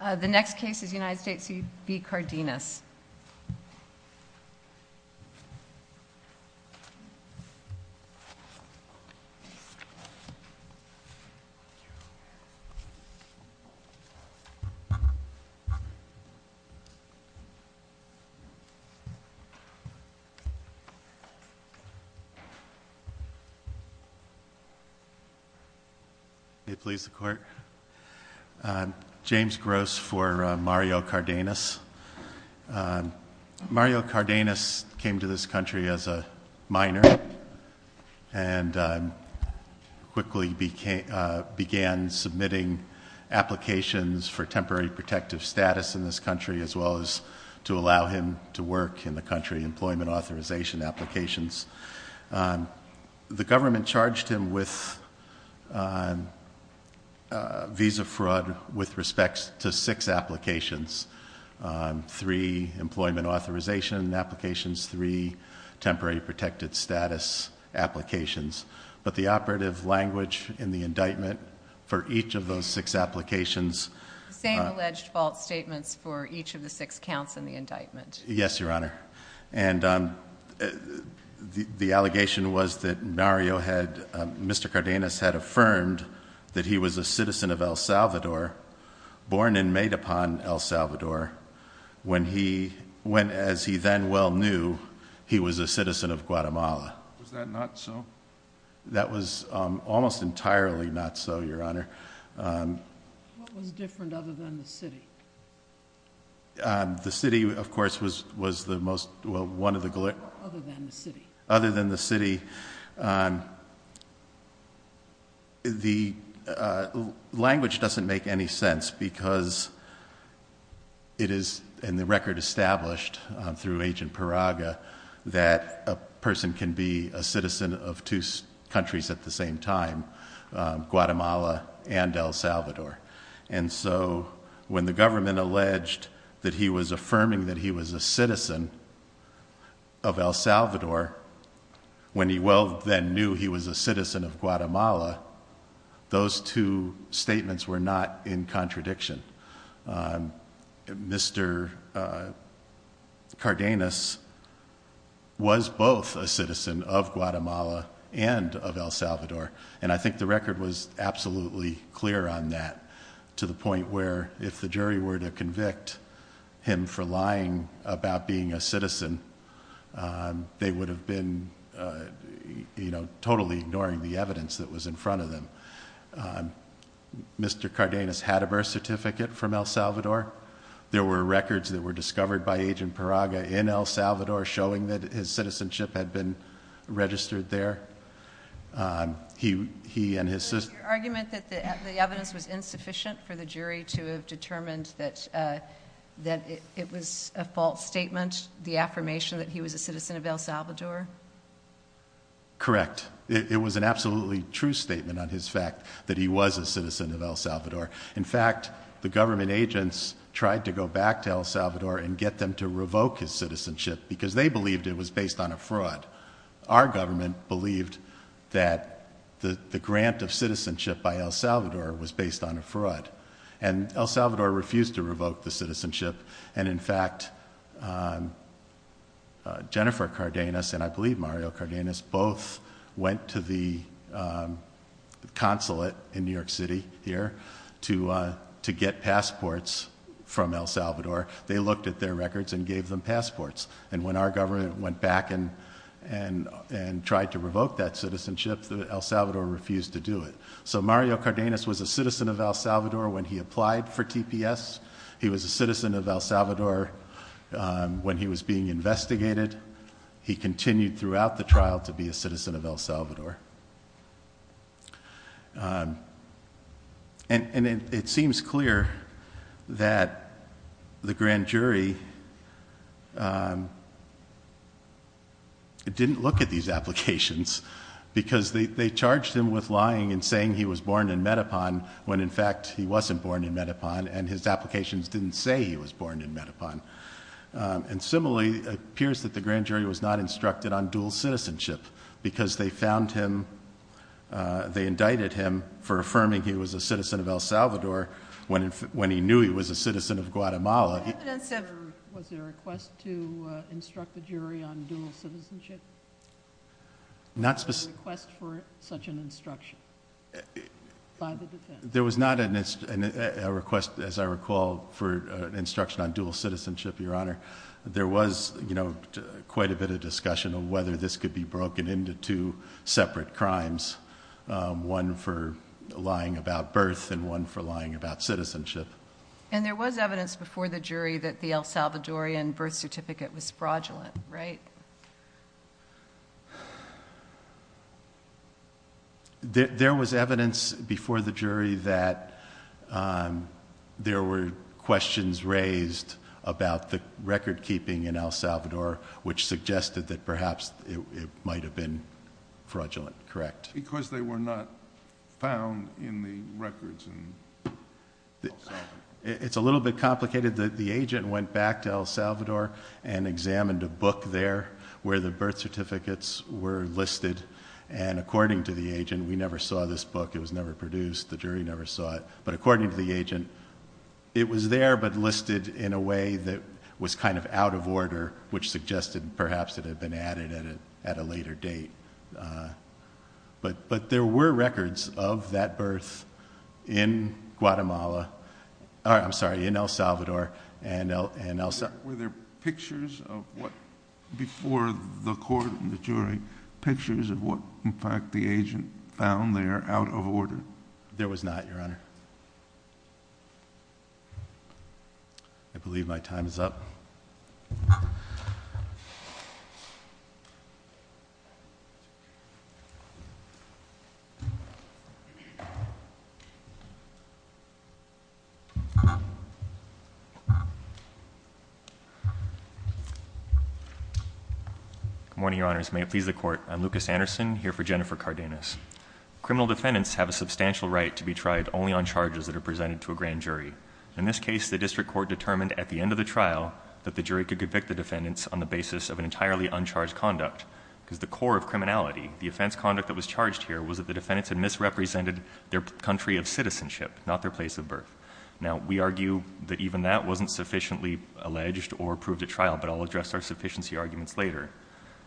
The next case is United States v. Cardenas. It please the court. James Gross for Mario Cardenas. Mario Cardenas came to this country as a minor and quickly began submitting applications for temporary protective status in this country as well as to allow him to work in the country, employment authorization applications. The government charged him with visa fraud with respect to six applications, three employment authorization applications, three temporary protected status applications. But the operative language in the indictment for each of those six applications. The same alleged fault statements for each of the six counts in the indictment. Yes, Your Honor. And the allegation was that Mario had Mr. Cardenas had affirmed that he was a citizen of El Salvador, born and made upon El Salvador when he went as he then well knew he was a citizen of Guatemala. Was that not so? That was almost entirely not so, Your Honor. What was different other than the city? The city, of course, was the most, well, one of the. Other than the city. Other than the city. The language doesn't make any sense because it is in the record established through Agent Paraga that a person can be a citizen of two countries at the same time, Guatemala and El Salvador. And so when the government alleged that he was affirming that he was a citizen of El Salvador, when he well then knew he was a citizen of Guatemala, those two statements were not in contradiction. Mr. Cardenas was both a citizen of Guatemala and of El Salvador. And I think the record was absolutely clear on that to the point where if the jury were to convict him for lying about being a citizen, they would have been totally ignoring the evidence that was in front of them. Mr. Cardenas had a birth certificate from El Salvador. There were records that were discovered by Agent Paraga in El Salvador showing that his citizenship had been registered there. Was your argument that the evidence was insufficient for the jury to have determined that it was a false statement, the affirmation that he was a citizen of El Salvador? Correct. It was an absolutely true statement on his fact that he was a citizen of El Salvador. In fact, the government agents tried to go back to El Salvador and get them to revoke his citizenship because they believed it was based on a fraud. Our government believed that the grant of citizenship by El Salvador was based on a fraud. And El Salvador refused to revoke the citizenship. And in fact, Jennifer Cardenas and I believe Mario Cardenas both went to the consulate in New York City here to get passports from El Salvador. They looked at their records and gave them passports. And when our government went back and tried to revoke that citizenship, El Salvador refused to do it. So Mario Cardenas was a citizen of El Salvador when he applied for TPS. He was a citizen of El Salvador when he was being investigated. He continued throughout the trial to be a citizen of El Salvador. And it seems clear that the grand jury didn't look at these applications because they charged him with lying and saying he was born in Medapan when, in fact, he wasn't born in Medapan. And his applications didn't say he was born in Medapan. And similarly, it appears that the grand jury was not instructed on dual citizenship because they found him, they indicted him for affirming he was a citizen of El Salvador when he knew he was a citizen of Guatemala. Was there a request to instruct the jury on dual citizenship? Not specifically. A request for such an instruction by the defense? There was not a request, as I recall, for an instruction on dual citizenship, Your Honor. There was, you know, quite a bit of discussion of whether this could be broken into two separate crimes, one for lying about birth and one for lying about citizenship. And there was evidence before the jury that the El Salvadorian birth certificate was fraudulent, right? There was evidence before the jury that there were questions raised about the record keeping in El Salvador which suggested that perhaps it might have been fraudulent, correct? Because they were not found in the records in El Salvador. It's a little bit complicated that the agent went back to El Salvador and examined a book there where the birth certificates were listed. And according to the agent, we never saw this book. It was never produced. The jury never saw it. But according to the agent, it was there but listed in a way that was kind of out of order which suggested perhaps it had been added at a later date. But there were records of that birth in Guatemala. I'm sorry, in El Salvador and El Salvador. Were there pictures of what, before the court and the jury, pictures of what, in fact, the agent found there out of order? There was not, Your Honor. I believe my time is up. That's okay. Good morning, Your Honors. May it please the court. I'm Lucas Anderson here for Jennifer Cardenas. Criminal defendants have a substantial right to be tried only on charges that are presented to a grand jury. In this case, the district court determined at the end of the trial that the jury could convict the defendants on the basis of an entirely uncharged conduct. Because the core of criminality, the offense conduct that was charged here, was that the defendants had misrepresented their country of citizenship, not their place of birth. Now, we argue that even that wasn't sufficiently alleged or approved at trial, but I'll address our sufficiency arguments later.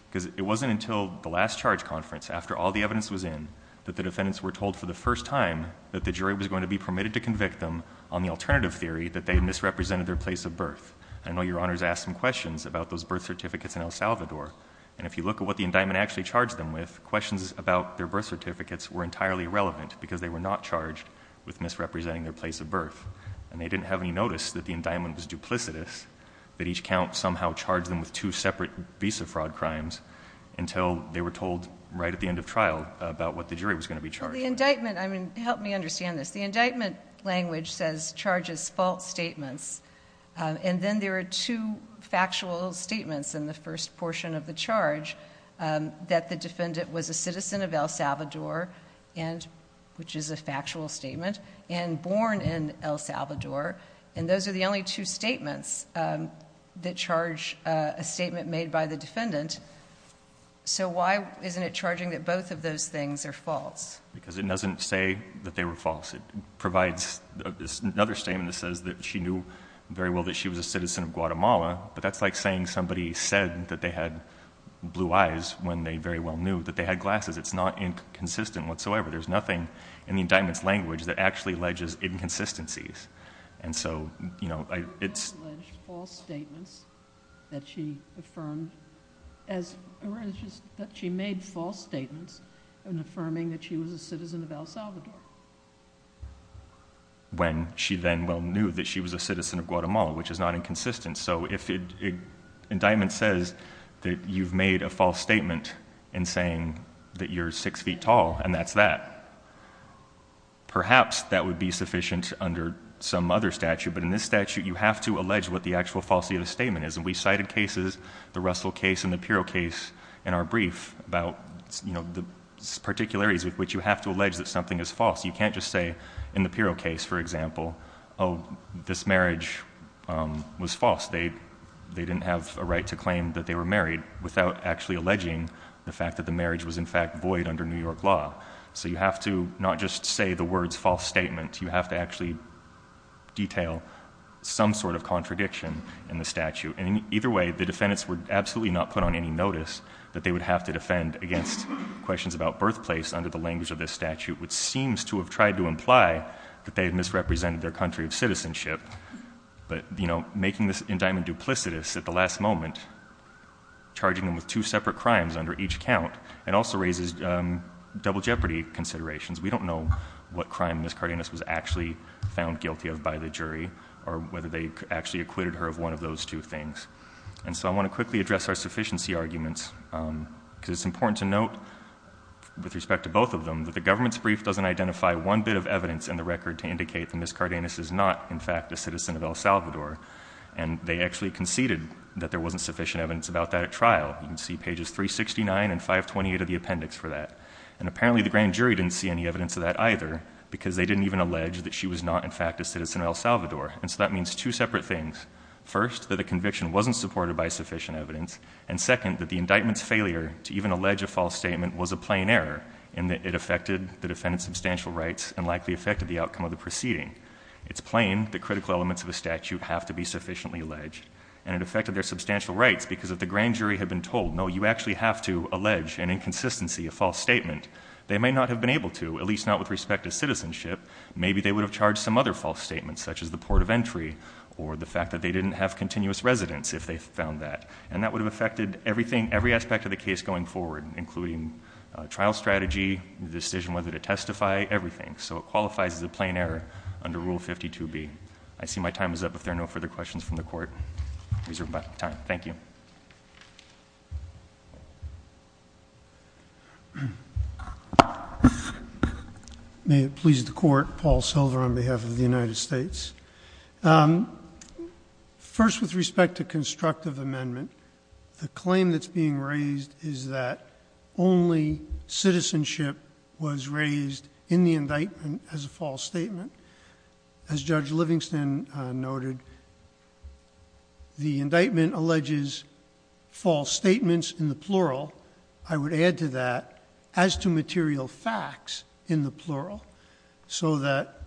Because it wasn't until the last charge conference, after all the evidence was in, that the defendants were told for the first time that the jury was going to be permitted to convict them on the alternative theory that they had misrepresented their place of birth. I know Your Honors asked some questions about those birth certificates in El Salvador. And if you look at what the indictment actually charged them with, questions about their birth certificates were entirely irrelevant, because they were not charged with misrepresenting their place of birth. And they didn't have any notice that the indictment was duplicitous, that each count somehow charged them with two separate visa fraud crimes, until they were told right at the end of trial about what the jury was going to be charged with. Well, the indictment, I mean, help me understand this. The indictment language says charges false statements. And then there are two factual statements in the first portion of the charge, that the defendant was a citizen of El Salvador, which is a factual statement, and born in El Salvador. And those are the only two statements that charge a statement made by the defendant. So why isn't it charging that both of those things are false? Because it doesn't say that they were false. It provides another statement that says that she knew very well that she was a citizen of Guatemala. But that's like saying somebody said that they had blue eyes when they very well knew that they had glasses. It's not inconsistent whatsoever. There's nothing in the indictment's language that actually alleges inconsistencies. It doesn't allege false statements that she affirmed, or that she made false statements in affirming that she was a citizen of El Salvador. When she then well knew that she was a citizen of Guatemala, which is not inconsistent. So if an indictment says that you've made a false statement in saying that you're six feet tall, and that's that, perhaps that would be sufficient under some other statute. But in this statute, you have to allege what the actual falsity of the statement is. And we cited cases, the Russell case and the Pirro case in our brief, about the particularities with which you have to allege that something is false. You can't just say in the Pirro case, for example, oh, this marriage was false. They didn't have a right to claim that they were married without actually alleging the fact that the marriage was in fact void under New York law. So you have to not just say the words false statement. You have to actually detail some sort of contradiction in the statute. And either way, the defendants were absolutely not put on any notice that they would have to defend against questions about birthplace under the language of this statute, which seems to have tried to imply that they had misrepresented their country of citizenship. But, you know, making this indictment duplicitous at the last moment, charging them with two separate crimes under each count, it also raises double jeopardy considerations. We don't know what crime Ms. Cardenas was actually found guilty of by the jury or whether they actually acquitted her of one of those two things. And so I want to quickly address our sufficiency arguments because it's important to note with respect to both of them that the government's brief doesn't identify one bit of evidence in the record to indicate that Ms. Cardenas is not, in fact, a citizen of El Salvador. And they actually conceded that there wasn't sufficient evidence about that at trial. You can see pages 369 and 528 of the appendix for that. And apparently the grand jury didn't see any evidence of that either because they didn't even allege that she was not, in fact, a citizen of El Salvador. And so that means two separate things. First, that the conviction wasn't supported by sufficient evidence. And second, that the indictment's failure to even allege a false statement was a plain error in that it affected the defendant's substantial rights and likely affected the outcome of the proceeding. It's plain that critical elements of a statute have to be sufficiently alleged. And it affected their substantial rights because if the grand jury had been told, no, you actually have to allege an inconsistency, a false statement, they may not have been able to, at least not with respect to citizenship. Maybe they would have charged some other false statements, such as the port of entry or the fact that they didn't have continuous residence if they found that. And that would have affected everything, every aspect of the case going forward, including trial strategy, the decision whether to testify, everything. So it qualifies as a plain error under Rule 52B. I see my time is up. If there are no further questions from the Court, I reserve my time. Thank you. May it please the Court, Paul Silver on behalf of the United States. First, with respect to constructive amendment, the claim that's being raised is that only citizenship was raised in the indictment as a false statement. As Judge Livingston noted, the indictment alleges false statements in the plural. I would add to that as to material facts in the plural so that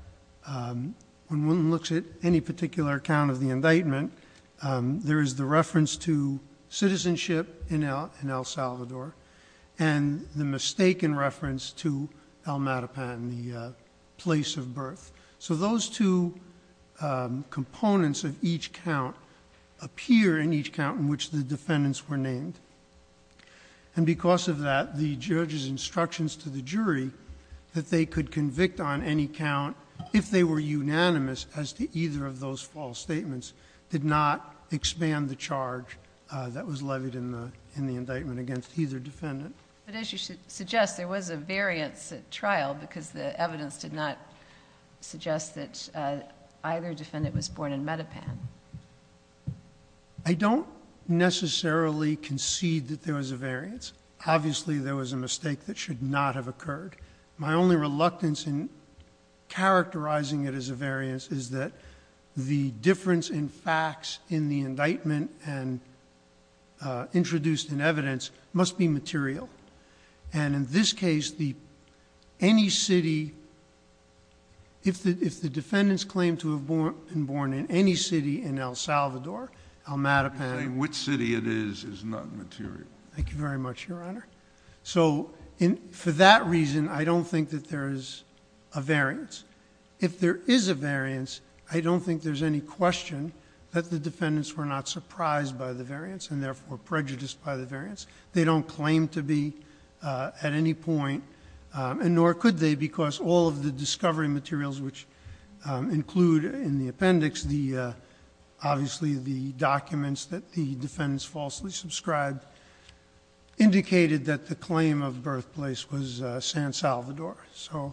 when one looks at any particular account of the indictment, there is the reference to citizenship in El Salvador and the mistaken reference to El Matapan, the place of birth. So those two components of each count appear in each count in which the defendants were named. And because of that, the judge's instructions to the jury that they could convict on any count if they were unanimous as to either of those false statements did not expand the charge that was levied in the indictment against either defendant. But as you suggest, there was a variance at trial because the evidence did not suggest that either defendant was born in Matapan. I don't necessarily concede that there was a variance. Obviously, there was a mistake that should not have occurred. My only reluctance in characterizing it as a variance is that the difference in facts in the indictment and introduced in evidence must be material. And in this case, any city, if the defendants claim to have been born in any city in El Salvador, El Matapan... You're saying which city it is is not material. Thank you very much, Your Honor. So for that reason, I don't think that there is a variance. If there is a variance, I don't think there's any question that the defendants were not surprised by the variance and therefore prejudiced by the variance. They don't claim to be at any point, and nor could they because all of the discovery materials which include in the appendix, obviously the documents that the defendants falsely subscribed, indicated that the claim of birthplace was San Salvador. So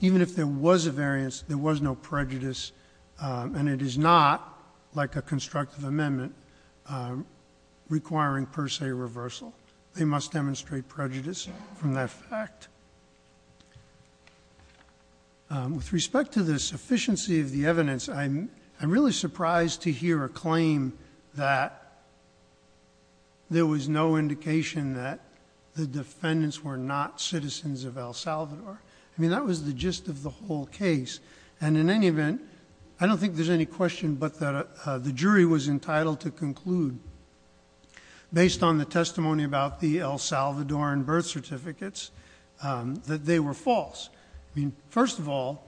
even if there was a variance, there was no prejudice, and it is not like a constructive amendment requiring per se reversal. They must demonstrate prejudice from that fact. With respect to the sufficiency of the evidence, I'm really surprised to hear a claim that there was no indication that the defendants were not citizens of El Salvador. I mean, that was the gist of the whole case, and in any event, I don't think there's any question but that the jury was entitled to conclude based on the testimony about the El Salvadoran birth certificates that they were false. I mean, first of all,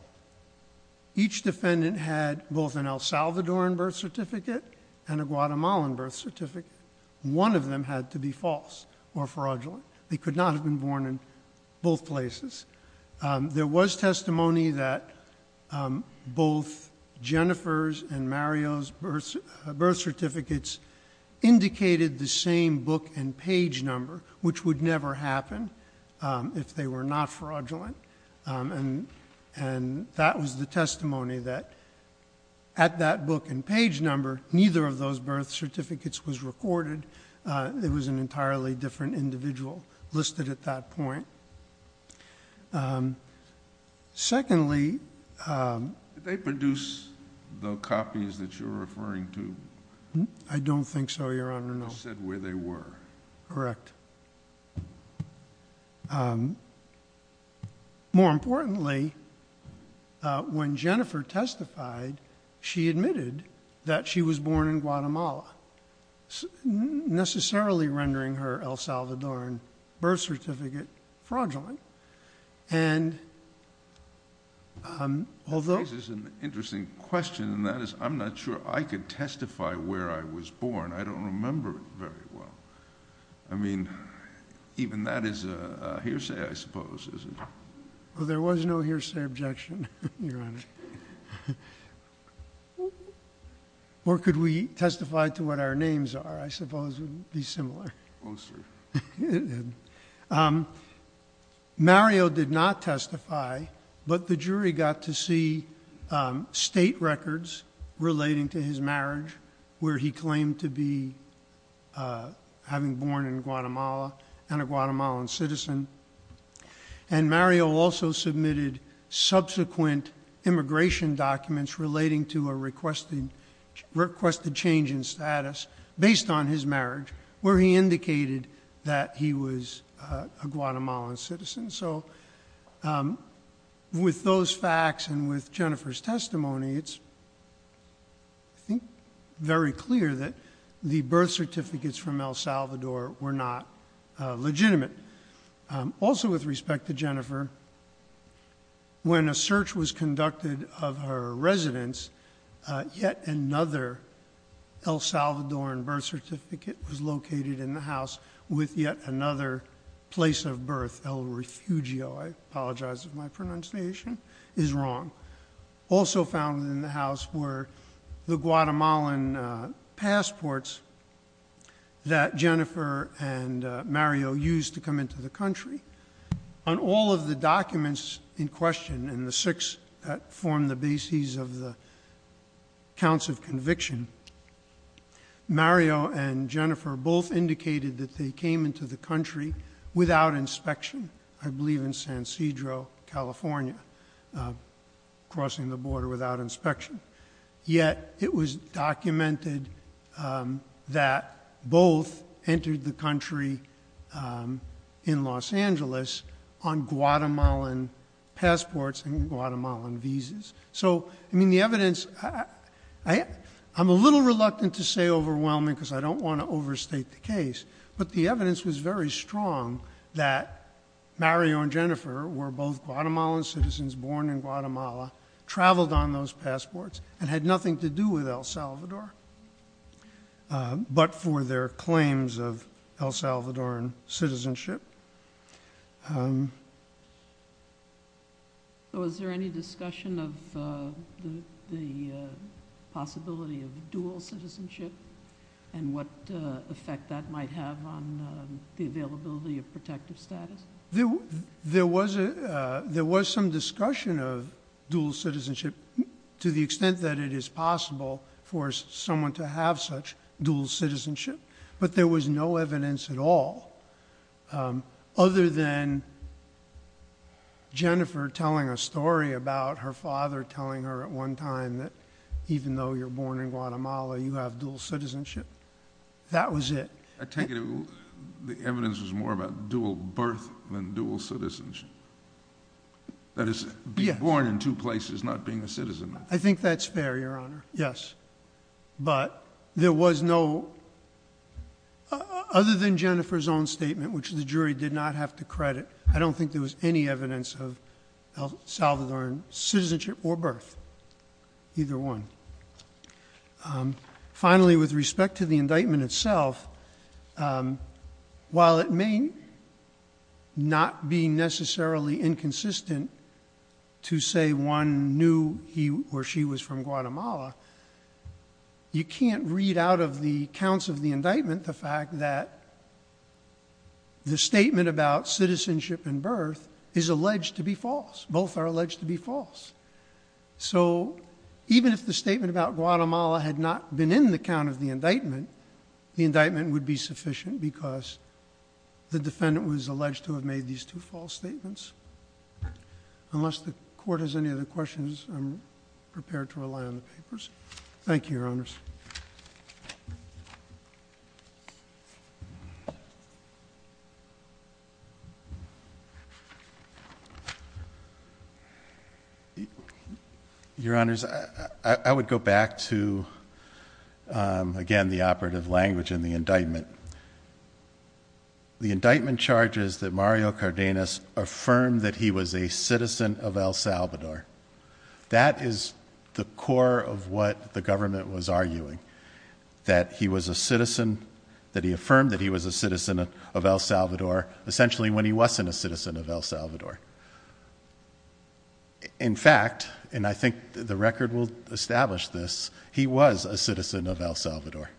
each defendant had both an El Salvadoran birth certificate and a Guatemalan birth certificate. One of them had to be false or fraudulent. They could not have been born in both places. There was testimony that both Jennifer's and Mario's birth certificates indicated the same book and page number, which would never happen if they were not fraudulent, and that was the testimony that at that book and page number, neither of those birth certificates was recorded. It was an entirely different individual listed at that point. Secondly... Did they produce the copies that you're referring to? I don't think so, Your Honor, no. You said where they were. Correct. More importantly, when Jennifer testified, she admitted that she was born in Guatemala, necessarily rendering her El Salvadoran birth certificate fraudulent, and although... This is an interesting question, and that is I'm not sure I could testify where I was born. I don't remember it very well. I mean, even that is a hearsay, I suppose, isn't it? Well, there was no hearsay objection, Your Honor. Or could we testify to what our names are? I suppose it would be similar. Oh, sir. Mario did not testify, but the jury got to see state records relating to his marriage, where he claimed to be having born in Guatemala and a Guatemalan citizen, and Mario also submitted subsequent immigration documents relating to a requested change in status based on his marriage, where he indicated that he was a Guatemalan citizen. So with those facts and with Jennifer's testimony, it's, I think, very clear that the birth certificates from El Salvador were not legitimate. Also with respect to Jennifer, when a search was conducted of her residence, yet another El Salvadoran birth certificate was located in the house with yet another place of birth. El Refugio, I apologize if my pronunciation is wrong. Also found in the house were the Guatemalan passports that Jennifer and Mario used to come into the country. On all of the documents in question, and the six that form the basis of the counts of conviction, Mario and Jennifer both indicated that they came into the country without inspection, I believe in San Cedro, California, crossing the border without inspection. Yet it was documented that both entered the country in Los Angeles on Guatemalan passports and Guatemalan visas. So, I mean, the evidence... I'm a little reluctant to say overwhelming because I don't want to overstate the case, but the evidence was very strong that Mario and Jennifer were both Guatemalan citizens born in Guatemala, traveled on those passports, and had nothing to do with El Salvador, but for their claims of El Salvadoran citizenship. Was there any discussion of the possibility of dual citizenship and what effect that might have on the availability of protective status? There was some discussion of dual citizenship to the extent that it is possible for someone to have such dual citizenship, but there was no evidence at all other than Jennifer telling a story about her father telling her at one time that even though you're born in Guatemala, you have dual citizenship. That was it. I take it the evidence was more about dual birth than dual citizenship. That is, being born in two places, not being a citizen. I think that's fair, Your Honor. Yes. But there was no... Other than Jennifer's own statement, which the jury did not have to credit, I don't think there was any evidence of El Salvadoran citizenship or birth. Either one. Finally, with respect to the indictment itself, while it may not be necessarily inconsistent to say one knew he or she was from Guatemala, you can't read out of the counts of the indictment the fact that the statement about citizenship and birth is alleged to be false. Both are alleged to be false. So even if the statement about Guatemala had not been in the count of the indictment, the indictment would be sufficient because the defendant was alleged to have made these two false statements. Unless the Court has any other questions, I'm prepared to rely on the papers. Thank you, Your Honors. Your Honors, I would go back to, again, the operative language in the indictment. The indictment charges that Mario Cardenas affirmed that he was a citizen of El Salvador. That is the core of what the government was arguing. affirmed that he was a citizen of El Salvador. that he affirmed that he was a citizen of El Salvador essentially when he wasn't a citizen of El Salvador. In fact, and I think the record will establish this, he was a citizen of El Salvador.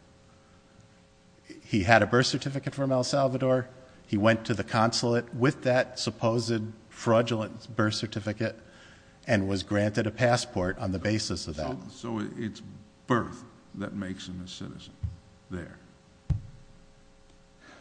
He had a birth certificate from El Salvador. He went to the consulate with that supposed fraudulent birth certificate and was granted a passport on the basis of that. So it's birth that makes him a citizen there.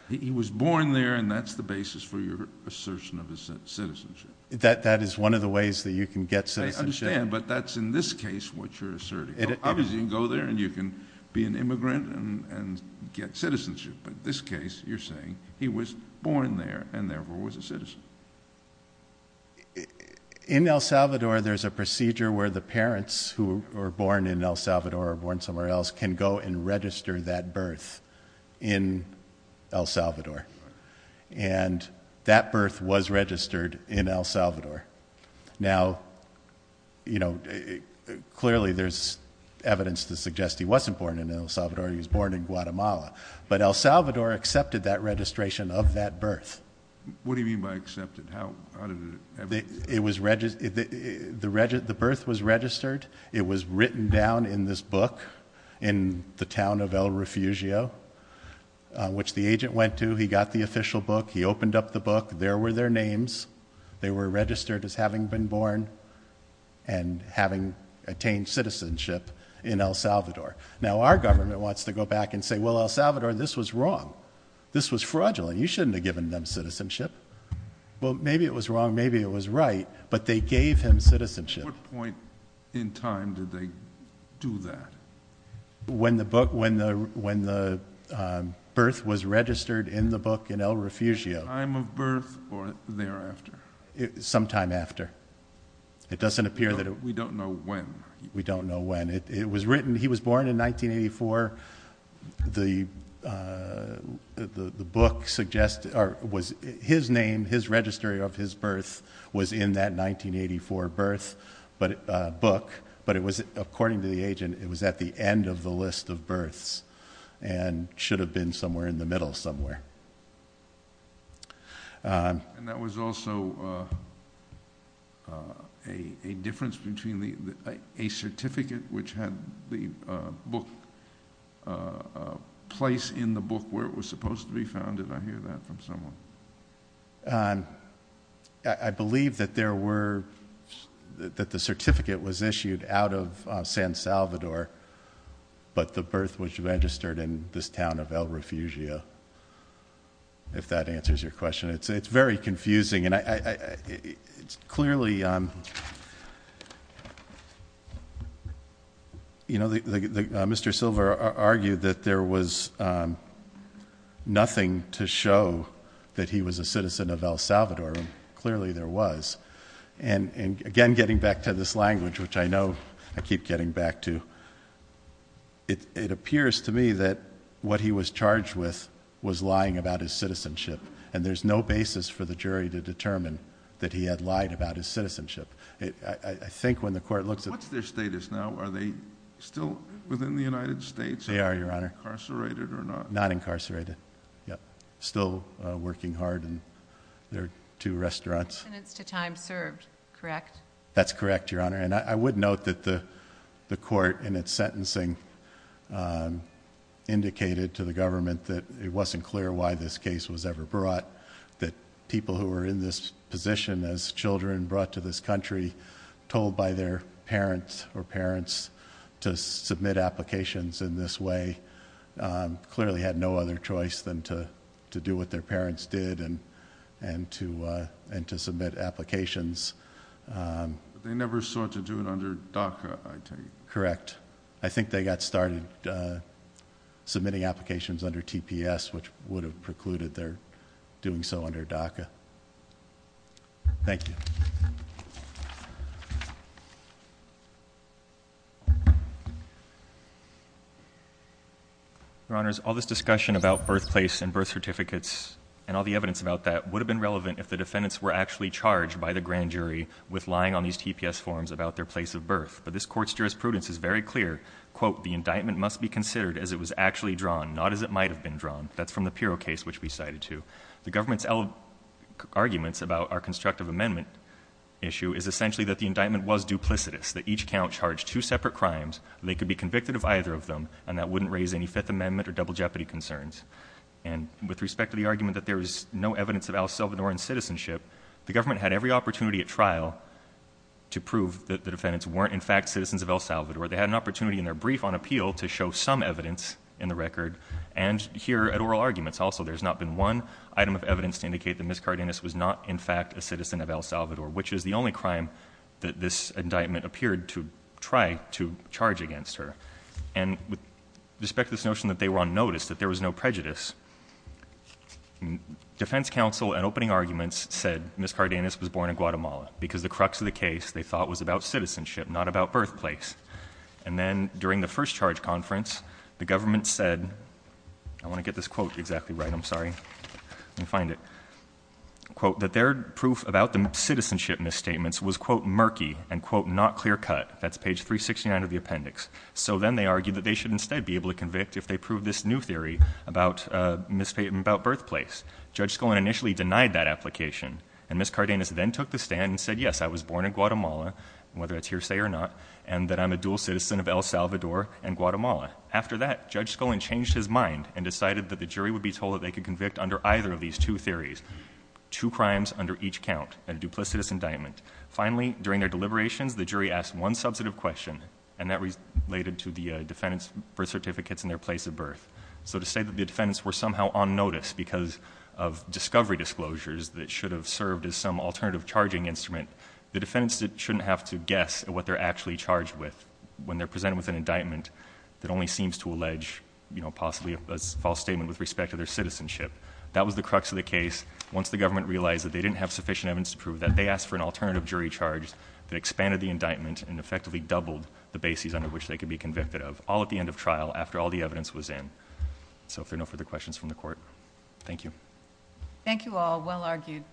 He was born there and that's the basis for your assertion of his citizenship. That is one of the ways that you can get citizenship. I understand, but that's in this case what you're asserting. Obviously, you can go there and you can be an immigrant and get citizenship. But in this case, you're saying he was born there and therefore was a citizen. In El Salvador, there's a procedure where the parents who were born in El Salvador or born somewhere else can go and register that birth in El Salvador. And that birth was registered in El Salvador. Now, clearly there's evidence to suggest he wasn't born in El Salvador. He was born in Guatemala. But El Salvador accepted that registration of that birth. What do you mean by accepted? How did it happen? The birth was registered. It was written down in this book in the town of El Refugio, which the agent went to. He got the official book. He opened up the book. There were their names. They were registered as having been born and having attained citizenship in El Salvador. Now, our government wants to go back and say, well, El Salvador, this was wrong. This was fraudulent. You shouldn't have given them citizenship. Well, maybe it was wrong, maybe it was right, but they gave him citizenship. At what point in time did they do that? When the birth was registered in the book in El Refugio. At the time of birth or thereafter? Sometime after. We don't know when. We don't know when. He was born in 1984. His name, his registry of his birth was in that 1984 birth book. But according to the agent, it was at the end of the list of births and should have been somewhere in the middle somewhere. And that was also a difference between a certificate which had the book, a place in the book where it was supposed to be found. Did I hear that from someone? I believe that there were, that the certificate was issued out of San Salvador, but the birth was registered in this town of El Refugio, if that answers your question. It's very confusing, and it's clearly, you know, Mr. Silver argued that there was nothing to show that he was a citizen of El Salvador, and clearly there was. And again, getting back to this language, which I know I keep getting back to, it appears to me that what he was charged with was lying about his citizenship, and there's no basis for the jury to determine that he had lied about his citizenship. I think when the court looks at... What's their status now? Are they still within the United States? They are, Your Honor. Incarcerated or not? Not incarcerated. Still working hard in their two restaurants. Sentence to time served, correct? That's correct, Your Honor. And I would note that the court in its sentencing indicated to the government that it wasn't clear why this case was ever brought, that people who were in this position as children brought to this country, told by their parents or parents to submit applications in this way, clearly had no other choice than to do what their parents did and to submit applications. They never sought to do it under DACA, I take it? Correct. I think they got started submitting applications under TPS, which would have precluded their doing so under DACA. Thank you. Your Honors, all this discussion about birthplace and birth certificates and all the evidence about that would have been relevant if the defendants were actually charged by the grand jury with lying on these TPS forms about their place of birth. But this Court's jurisprudence is very clear. Quote, the indictment must be considered as it was actually drawn, not as it might have been drawn. That's from the Pirro case, which we cited, too. The government's arguments about our constructive amendment issue is essentially that the indictment was duplicitous, that each count charged two separate crimes. They could be convicted of either of them, and that wouldn't raise any Fifth Amendment or double jeopardy concerns. And with respect to the argument that there is no evidence of El Salvadoran citizenship, the government had every opportunity at trial to prove that the defendants weren't in fact citizens of El Salvador. They had an opportunity in their brief on appeal to show some evidence in the record, and here at oral arguments also there's not been one item of evidence to indicate that Ms. Cardenas was not in fact a citizen of El Salvador, which is the only crime that this indictment appeared to try to charge against her. And with respect to this notion that they were on notice, that there was no prejudice, defense counsel at opening arguments said Ms. Cardenas was born in Guatemala because the crux of the case, they thought, was about citizenship, not about birthplace. And then during the first charge conference, the government said, I want to get this quote exactly right, I'm sorry. Let me find it. Quote, that their proof about the citizenship misstatements was, quote, murky, and, quote, not clear cut. That's page 369 of the appendix. So then they argued that they should instead be able to convict if they prove this new theory about misstatement about birthplace. Judge Scullin initially denied that application, and Ms. Cardenas then took the stand and said, yes, I was born in Guatemala, whether it's hearsay or not, and that I'm a dual citizen of El Salvador and Guatemala. After that, Judge Scullin changed his mind and decided that the jury would be told that they could convict under either of these two theories, two crimes under each count, a duplicitous indictment. Finally, during their deliberations, the jury asked one substantive question, and that related to the defendant's birth certificates and their place of birth. So to say that the defendants were somehow on notice because of discovery disclosures that should have served as some alternative charging instrument, the defendants shouldn't have to guess at what they're actually charged with when they're presented with an indictment that only seems to allege, you know, possibly a false statement with respect to their citizenship. That was the crux of the case. Once the government realized that they didn't have sufficient evidence to prove that, they asked for an alternative jury charge that expanded the indictment and effectively doubled the bases under which they could be convicted of, all at the end of trial after all the evidence was in. So if there are no further questions from the court, thank you. Thank you all. Well argued.